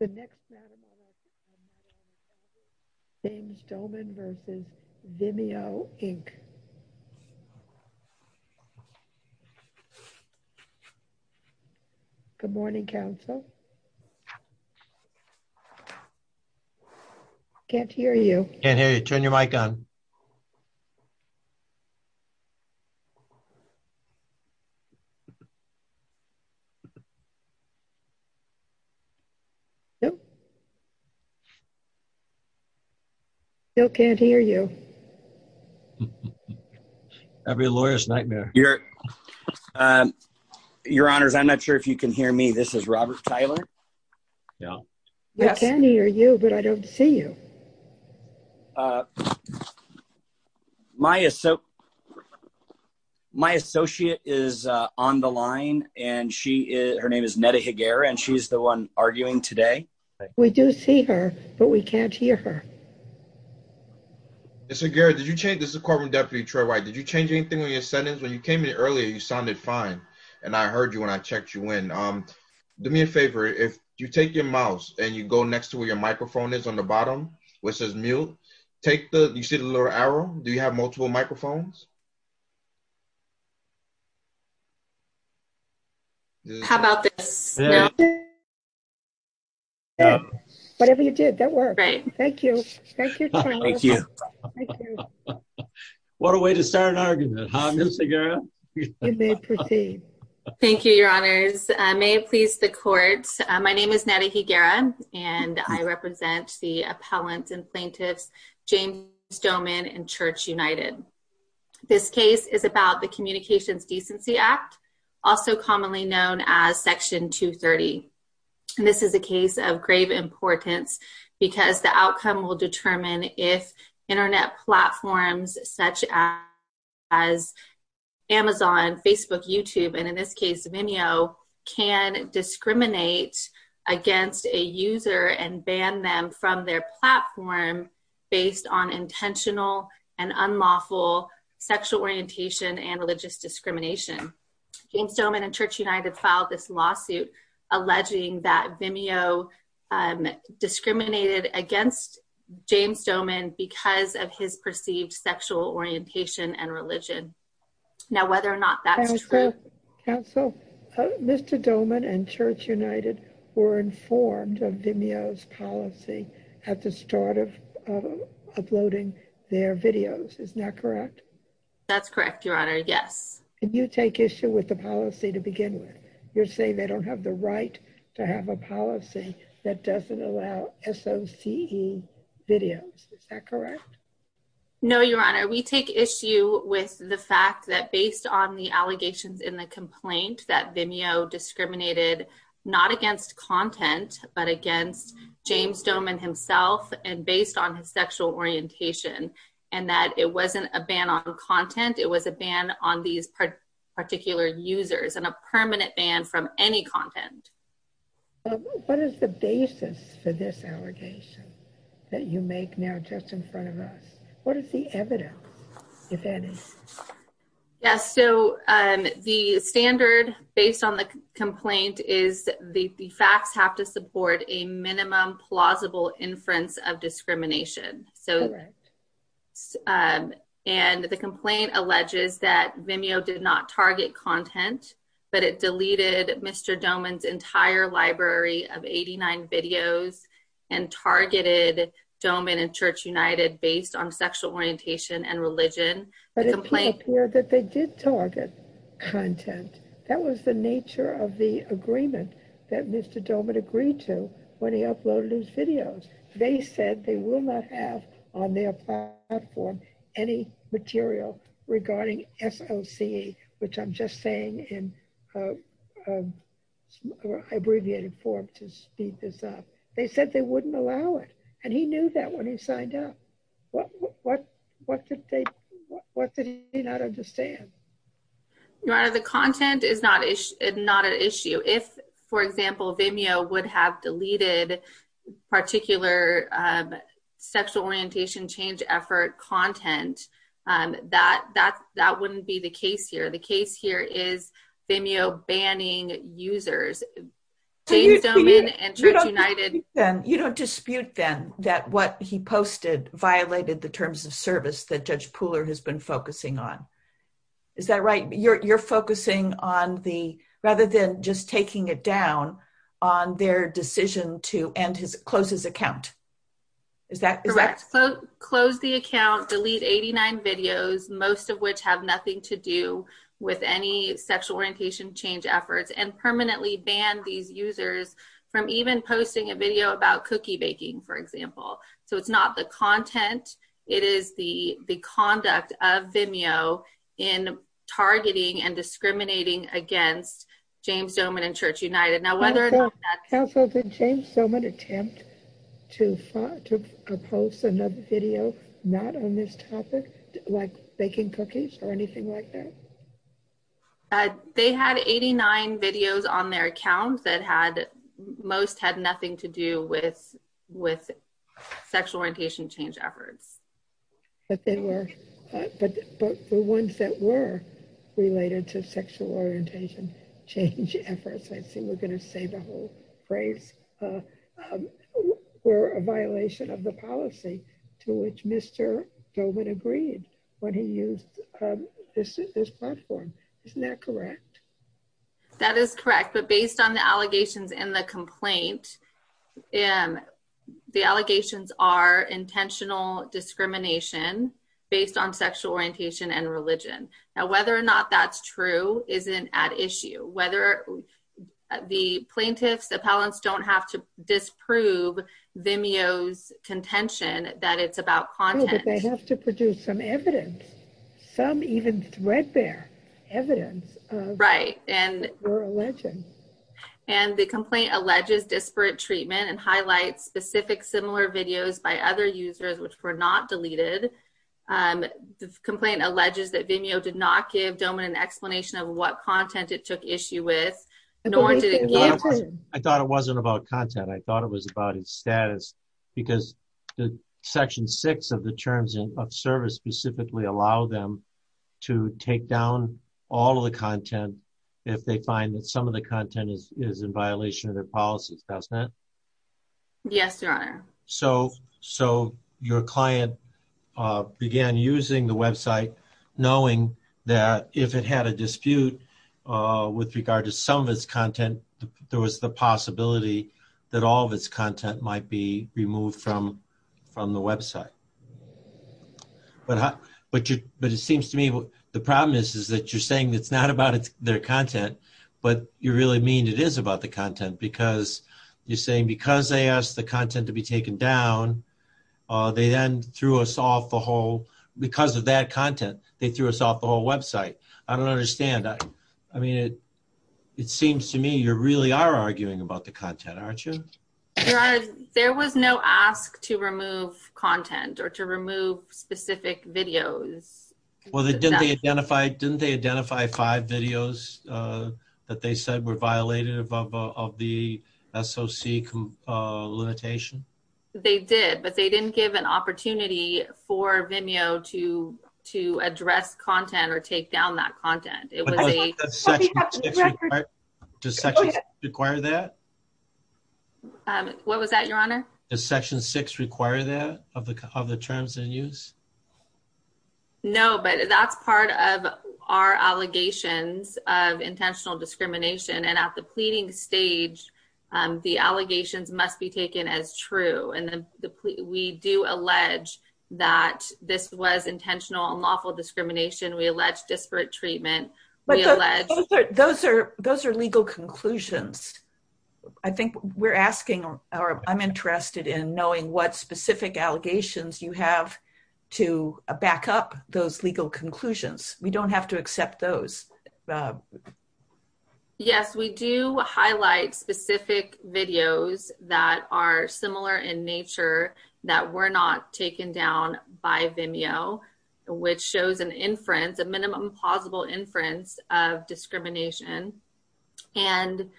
Good morning, Council. I can't hear you. I can't hear you. Turn your mic on. I still can't hear you. That would be a lawyer's nightmare. Your Honors, I'm not sure if you can hear me. This is Robert Tyler. I can't hear you, but I don't see you. I can't hear you. My is so. My associate is on the line and she is, her name is Neda Higuera and she's the one arguing today. We do see her, but we can't hear her. I can't hear you. And so, Gary, did you change this? The carbon deputy Trey, right? Did you change anything on your sentence when you came in earlier? You sounded fine. And I heard you when I checked you in. Do me a favor. If you take your mouse and you go next to where your microphone is on the bottom. Which is mule. Take the, you see the little arrow. Do you have multiple microphones? Okay. How about this? Whatever you did that work. Right. Thank you. Thank you. What a way to start an argument. You may proceed. Thank you, your honors. May it please the courts. My name is Neda Higuera and I represent the appellant and plaintiffs, James Stoneman and church United. This case is about the communications decency act. Also commonly known as section two 30. And this is a case of grave importance. And it's a case of grave importance because the outcome will determine if internet platforms, such as. As Amazon, Facebook, YouTube, and in this case, Vimeo can discriminate. Against a user and ban them from their platform. Based on intentional and unlawful sexual orientation and religious discrimination. James Stoneman and church United filed this lawsuit. Alleging that Vimeo. Discriminated against James Stoneman because of his perceived sexual orientation and religion. Now, whether or not that's true. Mr. Doman and church United were informed of Vimeo's policy. At the start of. Uploading their videos. Isn't that correct? That's correct. Your honor. Yes. And you take issue with the policy to begin with. You're saying they don't have the right. To have a policy that doesn't allow S O C E. Videos. No, your honor. We take issue with the fact that based on the allegations in the complaint, that Vimeo discriminated. Not against content, but against James Stoneman himself. And based on his sexual orientation. And that it wasn't a ban on content. It was a ban on these. Particular users and a permanent ban from any content. Okay. What is the basis for this allegation? That you make now just in front of us. What is the evidence? If any. Yes. So the standard based on the complaint is the facts have to So the fact that they took. The entire library of 89 videos. And targeted domain and church United based on sexual orientation and religion. But they did target. Content. That was the nature of the agreement. That Mr. Dorman agreed to. When he uploaded his videos, they said they will not have. On their. On their platform. Any material regarding SOC. Which I'm just saying in. I abbreviated for him to speed this up. They said they wouldn't allow it. And he knew that when he signed up. What, what, what did they. What did he not understand? I don't know. The content is not, it's not an issue. If, for example, Vimeo would have deleted. Particular. Sexual orientation change effort content that, that that wouldn't be the case here. The case here is Vimeo banning sexual orientation change efforts. And the content is not targeted. Users. And church United. Then you don't dispute them that what he posted violated the terms of service that judge Pooler has been focusing on. Is that right? You're you're focusing on the, rather than just taking it down. On their decision to end his closest account. Is that correct? Yes. So close the account, delete 89 videos, most of which have nothing to do. With any sexual orientation change efforts and permanently ban these users from even posting a video about cookie baking, for example. So it's not the content. It is the, And it is the, the conduct of Vimeo in targeting and discriminating against. James Doman and church United. Now, whether. So much attempt. Too far to propose another video. Not on this topic. Like baking cookies or anything like that. I'm sorry. They had 89 videos on their account that had most had nothing to do with, with. Sexual orientation change efforts. But they were. But the ones that were. Related to sexual orientation. I think we're going to save the whole phrase. We're a violation of the policy. To which Mr. Doman agreed. When he used. This platform. Isn't that correct? That is correct. But based on the allegations and the complaint. The allegations are intentional discrimination based on sexual orientation and religion. Now, whether or not that's true. Isn't at issue, whether. The plaintiffs appellants don't have to disprove Vimeo's contention that it's about content. They have to produce some evidence. Some even threat there. Evidence. Right. And we're a legend. And the complaint alleges disparate treatment and highlights specific, similar videos by other users, which were not deleted. The complaint alleges that Vimeo did not give domain an explanation of what content it took issue with. I thought it wasn't about content. I thought it was about his status because the section six of the terms of service specifically allow them. To take down all of the content. If they find that some of the content is, is in violation of their policies. Yes, your honor. So, so your client. Began using the website, knowing that if it had a dispute. With regard to some of its content, there was the possibility that all of its content might be removed from, from the website. But, but you, but it seems to me. The problem is, is that you're saying it's not about their content, but you really mean it is about the content because you're saying, because they asked the content to be taken down. They then threw us off the whole, because of that content, they threw us off the whole website. I don't understand. I mean, it. It seems to me you're really are arguing about the content. Aren't you? There was no ask to remove content or to remove specific videos. Well, they did. They identified, didn't they identify five videos? That they said were violated above of the SOC. And they, they did not give an opportunity for Vimeo to, to address content or take down that content. It was a. Does that require that? What was that? Your honor. Section six require that of the, of the terms and use. No, but that's part of. Our allegations of intentional discrimination. So we are looking at the legal conclusions of the allegations of intentional and lawful discrimination. And at the pleading stage, the allegations must be taken as true. And then the plea, we do allege that this was intentional and lawful discrimination. We allege disparate treatment. Those are, those are legal conclusions. I think we're asking, or I'm interested in knowing what specific allegations you have to back up those legal conclusions. We don't have to accept those. Yes, we do highlight specific videos that are similar in nature that were not taken down by Vimeo, which shows an inference, a minimum possible inference of discrimination. I think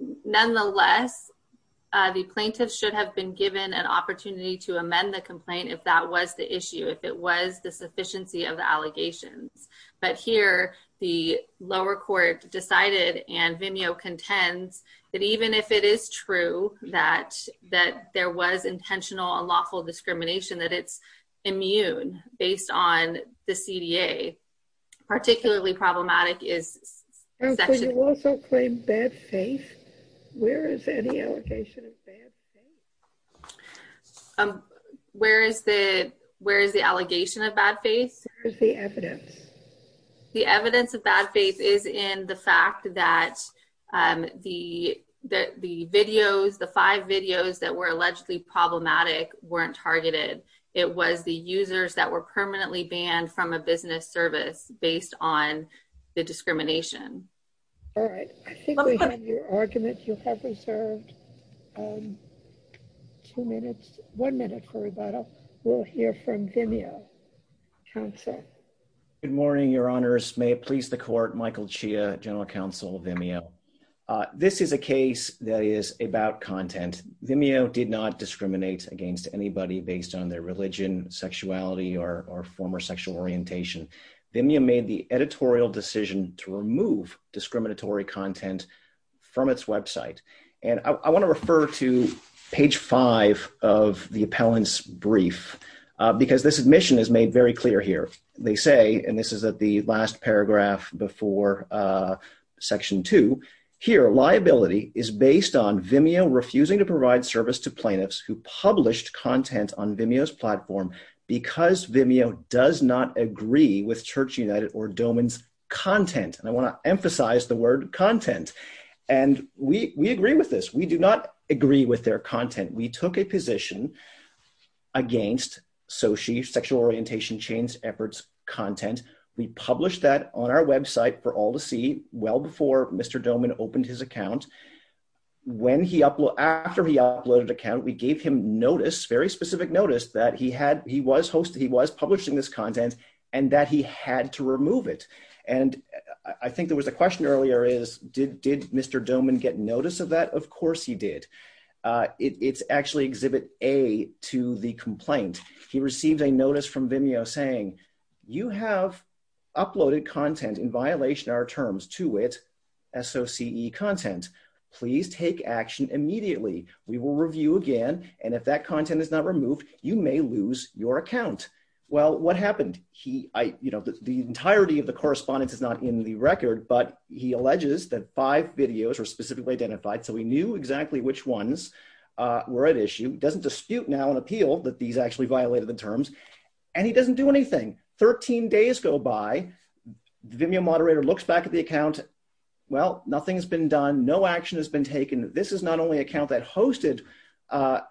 it's important to note that the, the plaintiffs have been given an opportunity to amend the complaint. If that was the issue, if it was the sufficiency of the allegations, but here the lower court decided and Vimeo contends that even if it is true, that, that there was intentional, a lawful discrimination that it's immune based on the CDA, particularly problematic is. So you also claim bad faith. Where is any allocation of bad faith? Where is the, where is the allegation of bad faith? Where is the evidence? The evidence of bad faith is in the fact that the, that the videos, the five videos that were allegedly problematic weren't targeted. It was the users that were permanently banned from a business service based on the discrimination. All right. I think we have your argument. You have reserved two minutes, one minute for rebuttal. We'll hear from Vimeo. Good morning. Your honors may please the court, Michael Chia, general counsel Vimeo. This is a case that is about content. Vimeo did not discriminate against anybody based on their religion, sexuality, or, or former sexual orientation. Vimeo made the editorial decision to remove discriminatory content from its website. And I want to refer to page five of the appellant's brief because this admission is made very clear here. They say, and this is at the last paragraph before section two here, liability is based on Vimeo, refusing to provide service to plaintiffs who published content on Vimeo's website. And we do not agree with Church United or Doman's content. And I want to emphasize the word content. And we, we agree with this. We do not agree with their content. We took a position against Sochi sexual orientation, change efforts content. We published that on our website for all to see well before Mr. Doman opened his account. When he uploaded after he uploaded account, we gave him notice, very specific notice that he had, he was hosting, he was publishing this content and that he had to remove it. And I think there was a question earlier is did, did Mr. Doman get notice of that? Of course he did. It's actually exhibit a to the complaint. He received a notice from Vimeo saying you have uploaded content in violation, our terms to it. So CE content, please take action immediately. We will review again. And if that content is not removed, you may lose your account. Well, what happened? He, I, you know, the entirety of the correspondence is not in the record, but he alleges that five videos were specifically identified. So we knew exactly which ones were at issue doesn't dispute now an appeal that these actually violated the terms and he doesn't do anything. 13 days go by. Vimeo moderator looks back at the account. Well, nothing's been done. No action has been taken. This is not only account that hosted a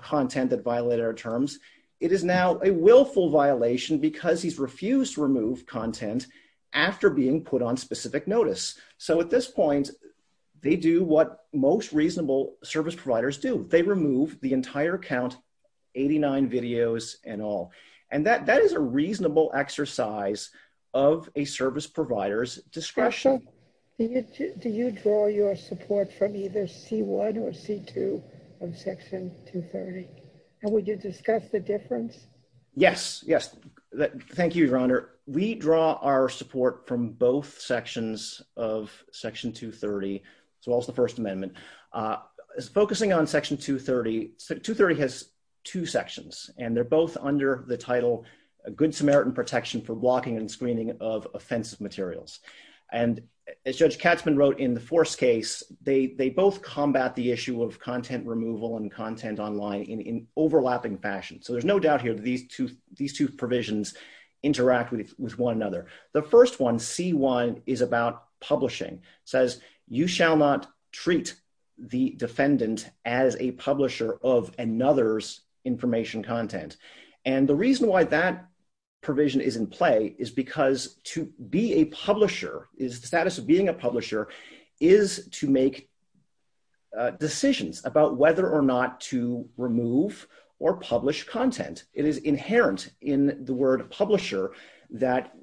content that violated our terms. It is now a willful violation because he's refused to remove content after being put on specific notice. So at this point they do what most reasonable service providers do. They remove the entire count. 89 videos and all, and that, that is a reasonable exercise of a service providers discretion. Do you draw your support from either C1 or C2 of section 230? And would you discuss the difference? Yes. Yes. Thank you, your Honor. We draw our support from both sections of section two 30. So also the first amendment is focusing on section two 30, two 30 has two sections and they're both under the title, a good Samaritan protection for blocking and screening of offensive materials. And as judge Katzman wrote in the force case, they, they both combat the issue of content removal and content online in, in overlapping fashion. So there's no doubt here that these two, these two provisions interact with one another. The first one C1 is about publishing says you shall not treat the defendant as a publisher of another's information content. And the reason why that provision is in play is because to be a publisher is the status of being a publisher is to make decisions about whether or not to remove or publish content. It is inherent in the word publisher that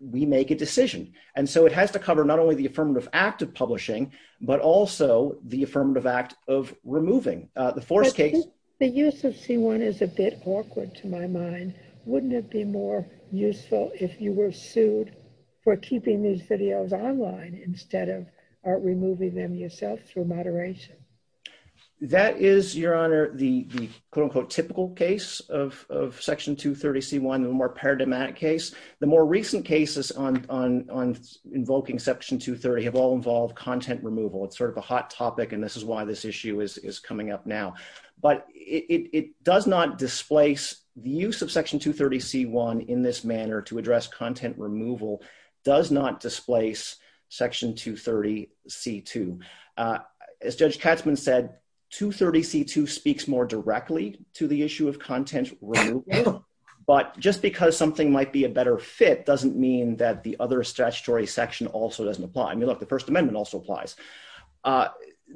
we make a decision. And so it has to cover not only the affirmative act of publishing, but also the affirmative act of removing the force case. The use of C1 is a bit awkward to my mind. Wouldn't it be more useful if you were sued for keeping these videos online instead of removing them yourself through moderation? That is your honor. The quote unquote, typical case of section two 30 C1, the more paradigmatic case, the more recent cases on, on, on invoking section two 30 have all involved content removal. It's sort of a hot topic. And this is why this issue is coming up now. But it does not displace the use of section two 30 C1 in this manner to address content. Removal does not displace section two 30 C2. As judge Katzman said, two 30 C2 speaks more directly to the issue of content, but just because something might be a better fit doesn't mean that the other statutory section also doesn't apply. I mean, look, the first amendment also applies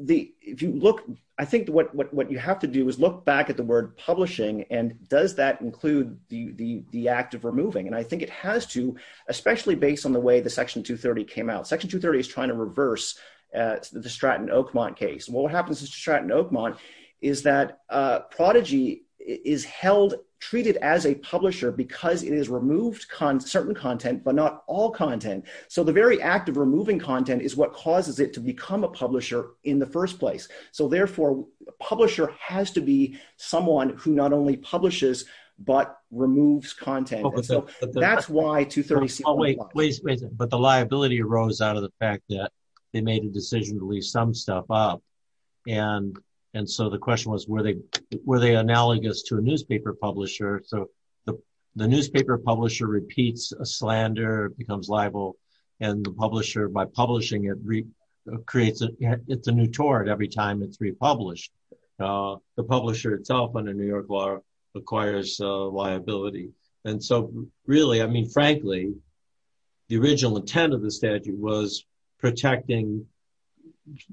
the, if you look, I think what, what, what you have to do is look back at the word publishing and does that include the, the, the act of removing? And I think it has to, especially based on the way the section two 30 came out, section two 30 is trying to reverse the Stratton Oakmont case. And what happens is to Stratton Oakmont is that a prodigy is held, treated as a publisher because it is removed certain content, but not all content. So the very act of removing content is what causes it to become a publisher in the first place. So therefore publisher has to be someone who not only publishes, but removes content. So that's why two 30. But the liability arose out of the fact that they made a decision to leave some stuff up. And, and so the question was, were they, were they analogous to a newspaper publisher? So the newspaper publisher repeats a slander becomes liable and the publisher by publishing it recreates it. It's a new tour. And every time it's republished the publisher itself under New York law acquires a liability. And so really, I mean, frankly, the original intent of the statute was protecting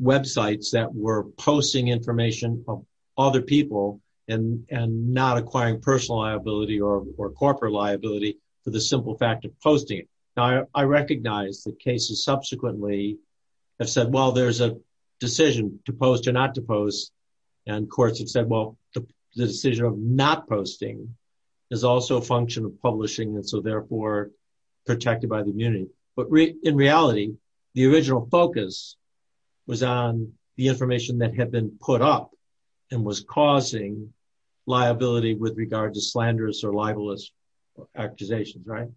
websites that were posting information from other people and, and not acquiring personal liability or corporate liability for the simple fact of posting it. I recognize the cases subsequently have said, well, there's a decision to post or not to post. And courts have said, well, the decision of not posting is also a function of publishing. And so therefore protected by the community. But in reality, the original focus was on the information that had been put up and was causing liability with regard to slanderous or libelous accusations. Right.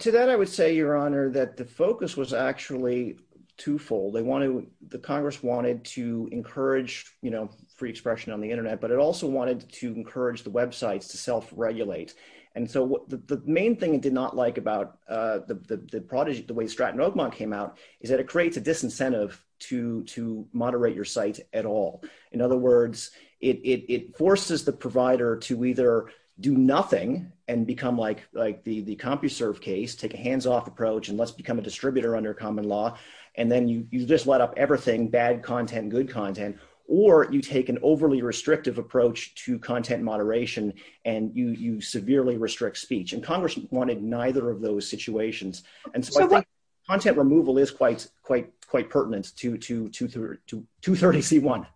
To that, I would say your honor, that the focus was actually twofold. They want to, the Congress wanted to encourage, you know, free expression on the internet, but it also wanted to encourage the websites to self regulate. And so the main thing it did not like about the prodigy, the way Stratton Oakmont came out is that it creates a disincentive to, to moderate your site at all. In other words, it forces the provider to either do nothing and become like, like the, the CompuServe case, take a hands-off approach and let's become a distributor under common law. And then you just let up everything bad content, good content, or you take an overly restrictive approach to content moderation and you, you severely restrict speech and Congress wanted neither of those situations. And so content removal is quite, quite, quite pertinent to, to, to, to, to 30 C one.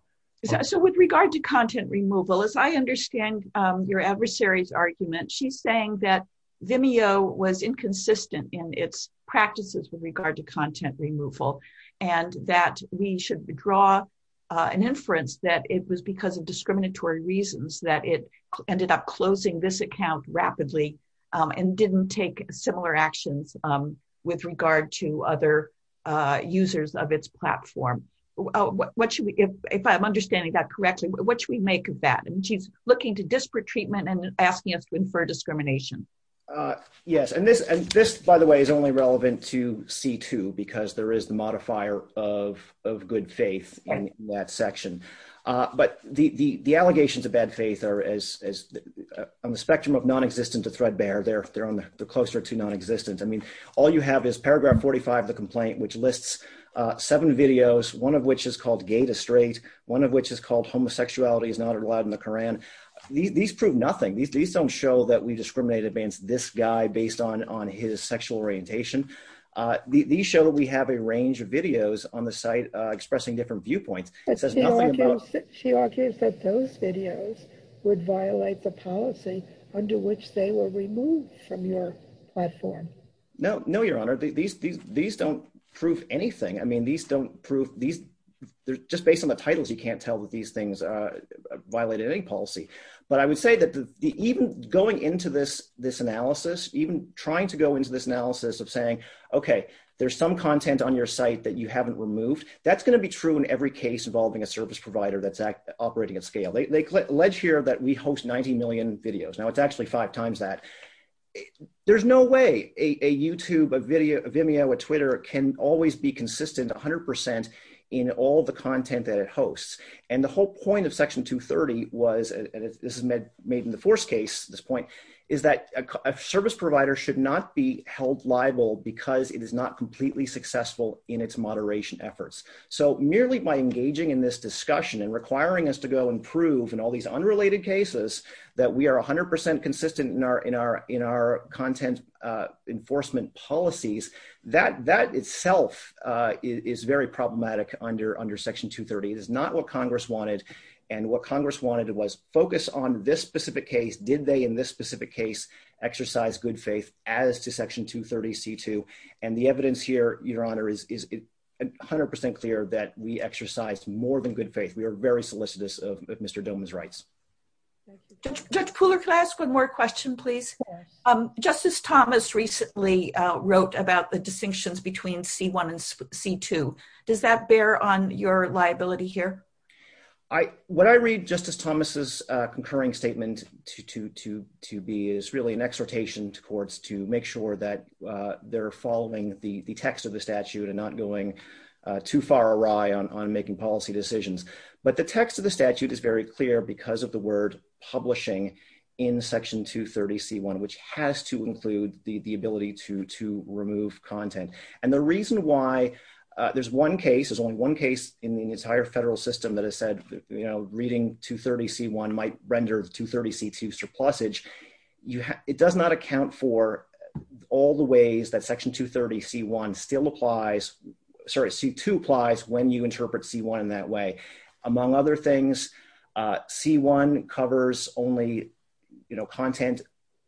So with regard to content removal, as I understand your adversaries argument, she's saying that Vimeo was inconsistent in its practices with regard to content removal and that we should withdraw an inference that it was because of discriminatory reasons that it ended up closing this account rapidly and didn't take similar actions with regard to other users of its platform. What should we, if I'm understanding that correctly, what should we make of that? And she's looking to disparate treatment and asking us to infer discrimination. Yes. And this, and this, by the way, is only relevant to C2 because there is the modifier of, of good faith in that section. But the, the, the allegations of bad faith are as on the spectrum of non-existent to thread bear. They're, they're on the closer to non-existent. I mean, all you have is paragraph 45, the complaint, which lists seven videos, one of which is called gay to straight. One of which is called homosexuality is not allowed in the Quran. These prove nothing. These don't show that we discriminate against this guy based on, on his sexual orientation. These show that we have a range of videos on the site expressing different viewpoints. She argues that those videos would violate the policy under which they were removed from your platform. No, no, Your Honor. These, these, these don't prove anything. I mean, these don't prove these they're just based on the titles. You can't tell that these things violated any policy, but I would say that even going into this, this analysis, even trying to go into this analysis of saying, okay, there's some content on your site that you haven't removed. That's going to be true in every case involving a service provider. That's operating at scale. They alleged here that we host 90 million videos. Now it's actually five times that there's no way a YouTube, a video, a Vimeo, a Twitter can always be consistent a hundred percent in all the content that it hosts. And the whole point of section two 30 was, and this is made made in the force case. This point is that a service provider should not be held liable because it is not completely successful in its moderation efforts. So merely by engaging in this discussion and requiring us to go improve and all these unrelated cases that we are a hundred percent consistent in our, in our, in our content enforcement policies, that that itself is very problematic under, under section two 30. It is not what Congress wanted and what Congress wanted. It was focused on this specific case. Did they in this specific case exercise good faith as to section two 30 C2 and the evidence here, your honor is, is a hundred percent clear that we exercised more than good faith. We are very solicitous of Mr. Doman's rights. Cooler class. One more question, please. Justice Thomas recently wrote about the distinctions between C1 and C2. Does that bear on your liability here? I, what I read justice Thomas's concurring statement to, to, to, to be is really an exhortation to courts to make sure that they're following the text of the statute and not going too far awry on, on making policy decisions. But the text of the statute is very clear because of the word publishing in the statute. used in the statute. If you look at section two 30 C1, which has to include the ability to, to remove content. And the reason why. There's one case is only one case in the entire federal system that has said, you know, reading two 30 C1 might render the two 30 C2 surplusage you have, it does not account for. You know, all the ways that section two 30 C1 still applies. Sorry. C2 applies when you interpret C1 in that way. Among other things. C1 covers only. You know, content.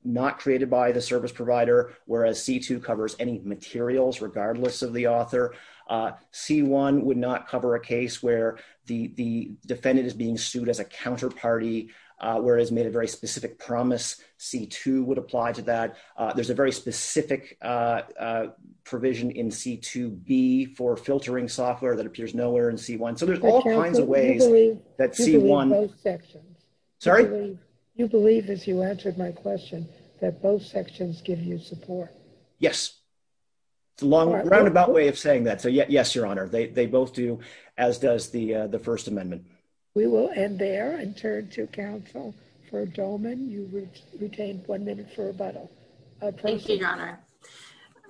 Not created by the service provider, whereas C2 covers any materials, regardless of the author. C1 would not cover a case where the defendant is being sued as a matter of fact, So there's a very specific. Provision in C2 B for filtering software that appears nowhere in C1. So there's all kinds of ways. That C1. Sorry. You believe this. You answered my question. That both sections give you support. Yes. It's a long roundabout way of saying that. So yeah, yes, your honor. They, they both do. As does the, the first amendment. Okay. Thank you. We will end there and turn to counsel. For a Dolman you. Retained one minute for a bottle. Thank you, your honor.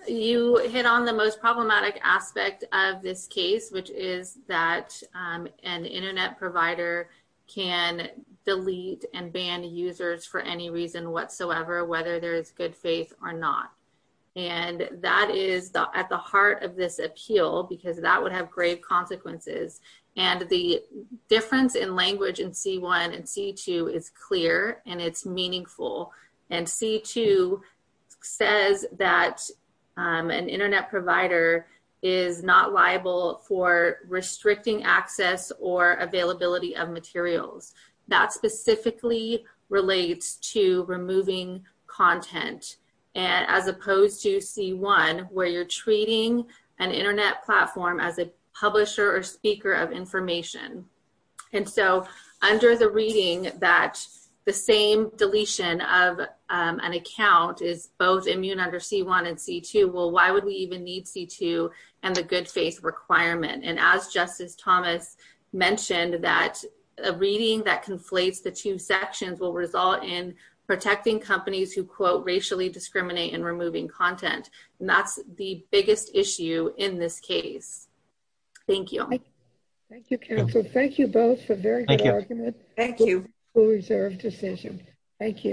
You hit on the most problematic aspect of this case, which is that an internet provider can delete and ban users for any reason whatsoever, whether there's good faith or not. And that is the, at the heart of this appeal, because that would have great consequences. And the difference in language and C1 and C2 is clear and it's meaningful. And C2 says that an internet provider is not liable for restricting access or availability of materials that specifically relates to removing content. And as opposed to C1, where you're treating an internet platform as a publisher or speaker of information. And so under the reading that the same deletion of an account is both immune under C1 and C2. Well, why would we even need C2 and the good faith requirement? And as justice Thomas mentioned that a reading that conflates the two sections will result in protecting companies who quote racially discriminate and removing content. And that's the biggest issue in this case. Thank you. Thank you counsel. Thank you both for very good argument. Thank you. We'll reserve decision. Thank you.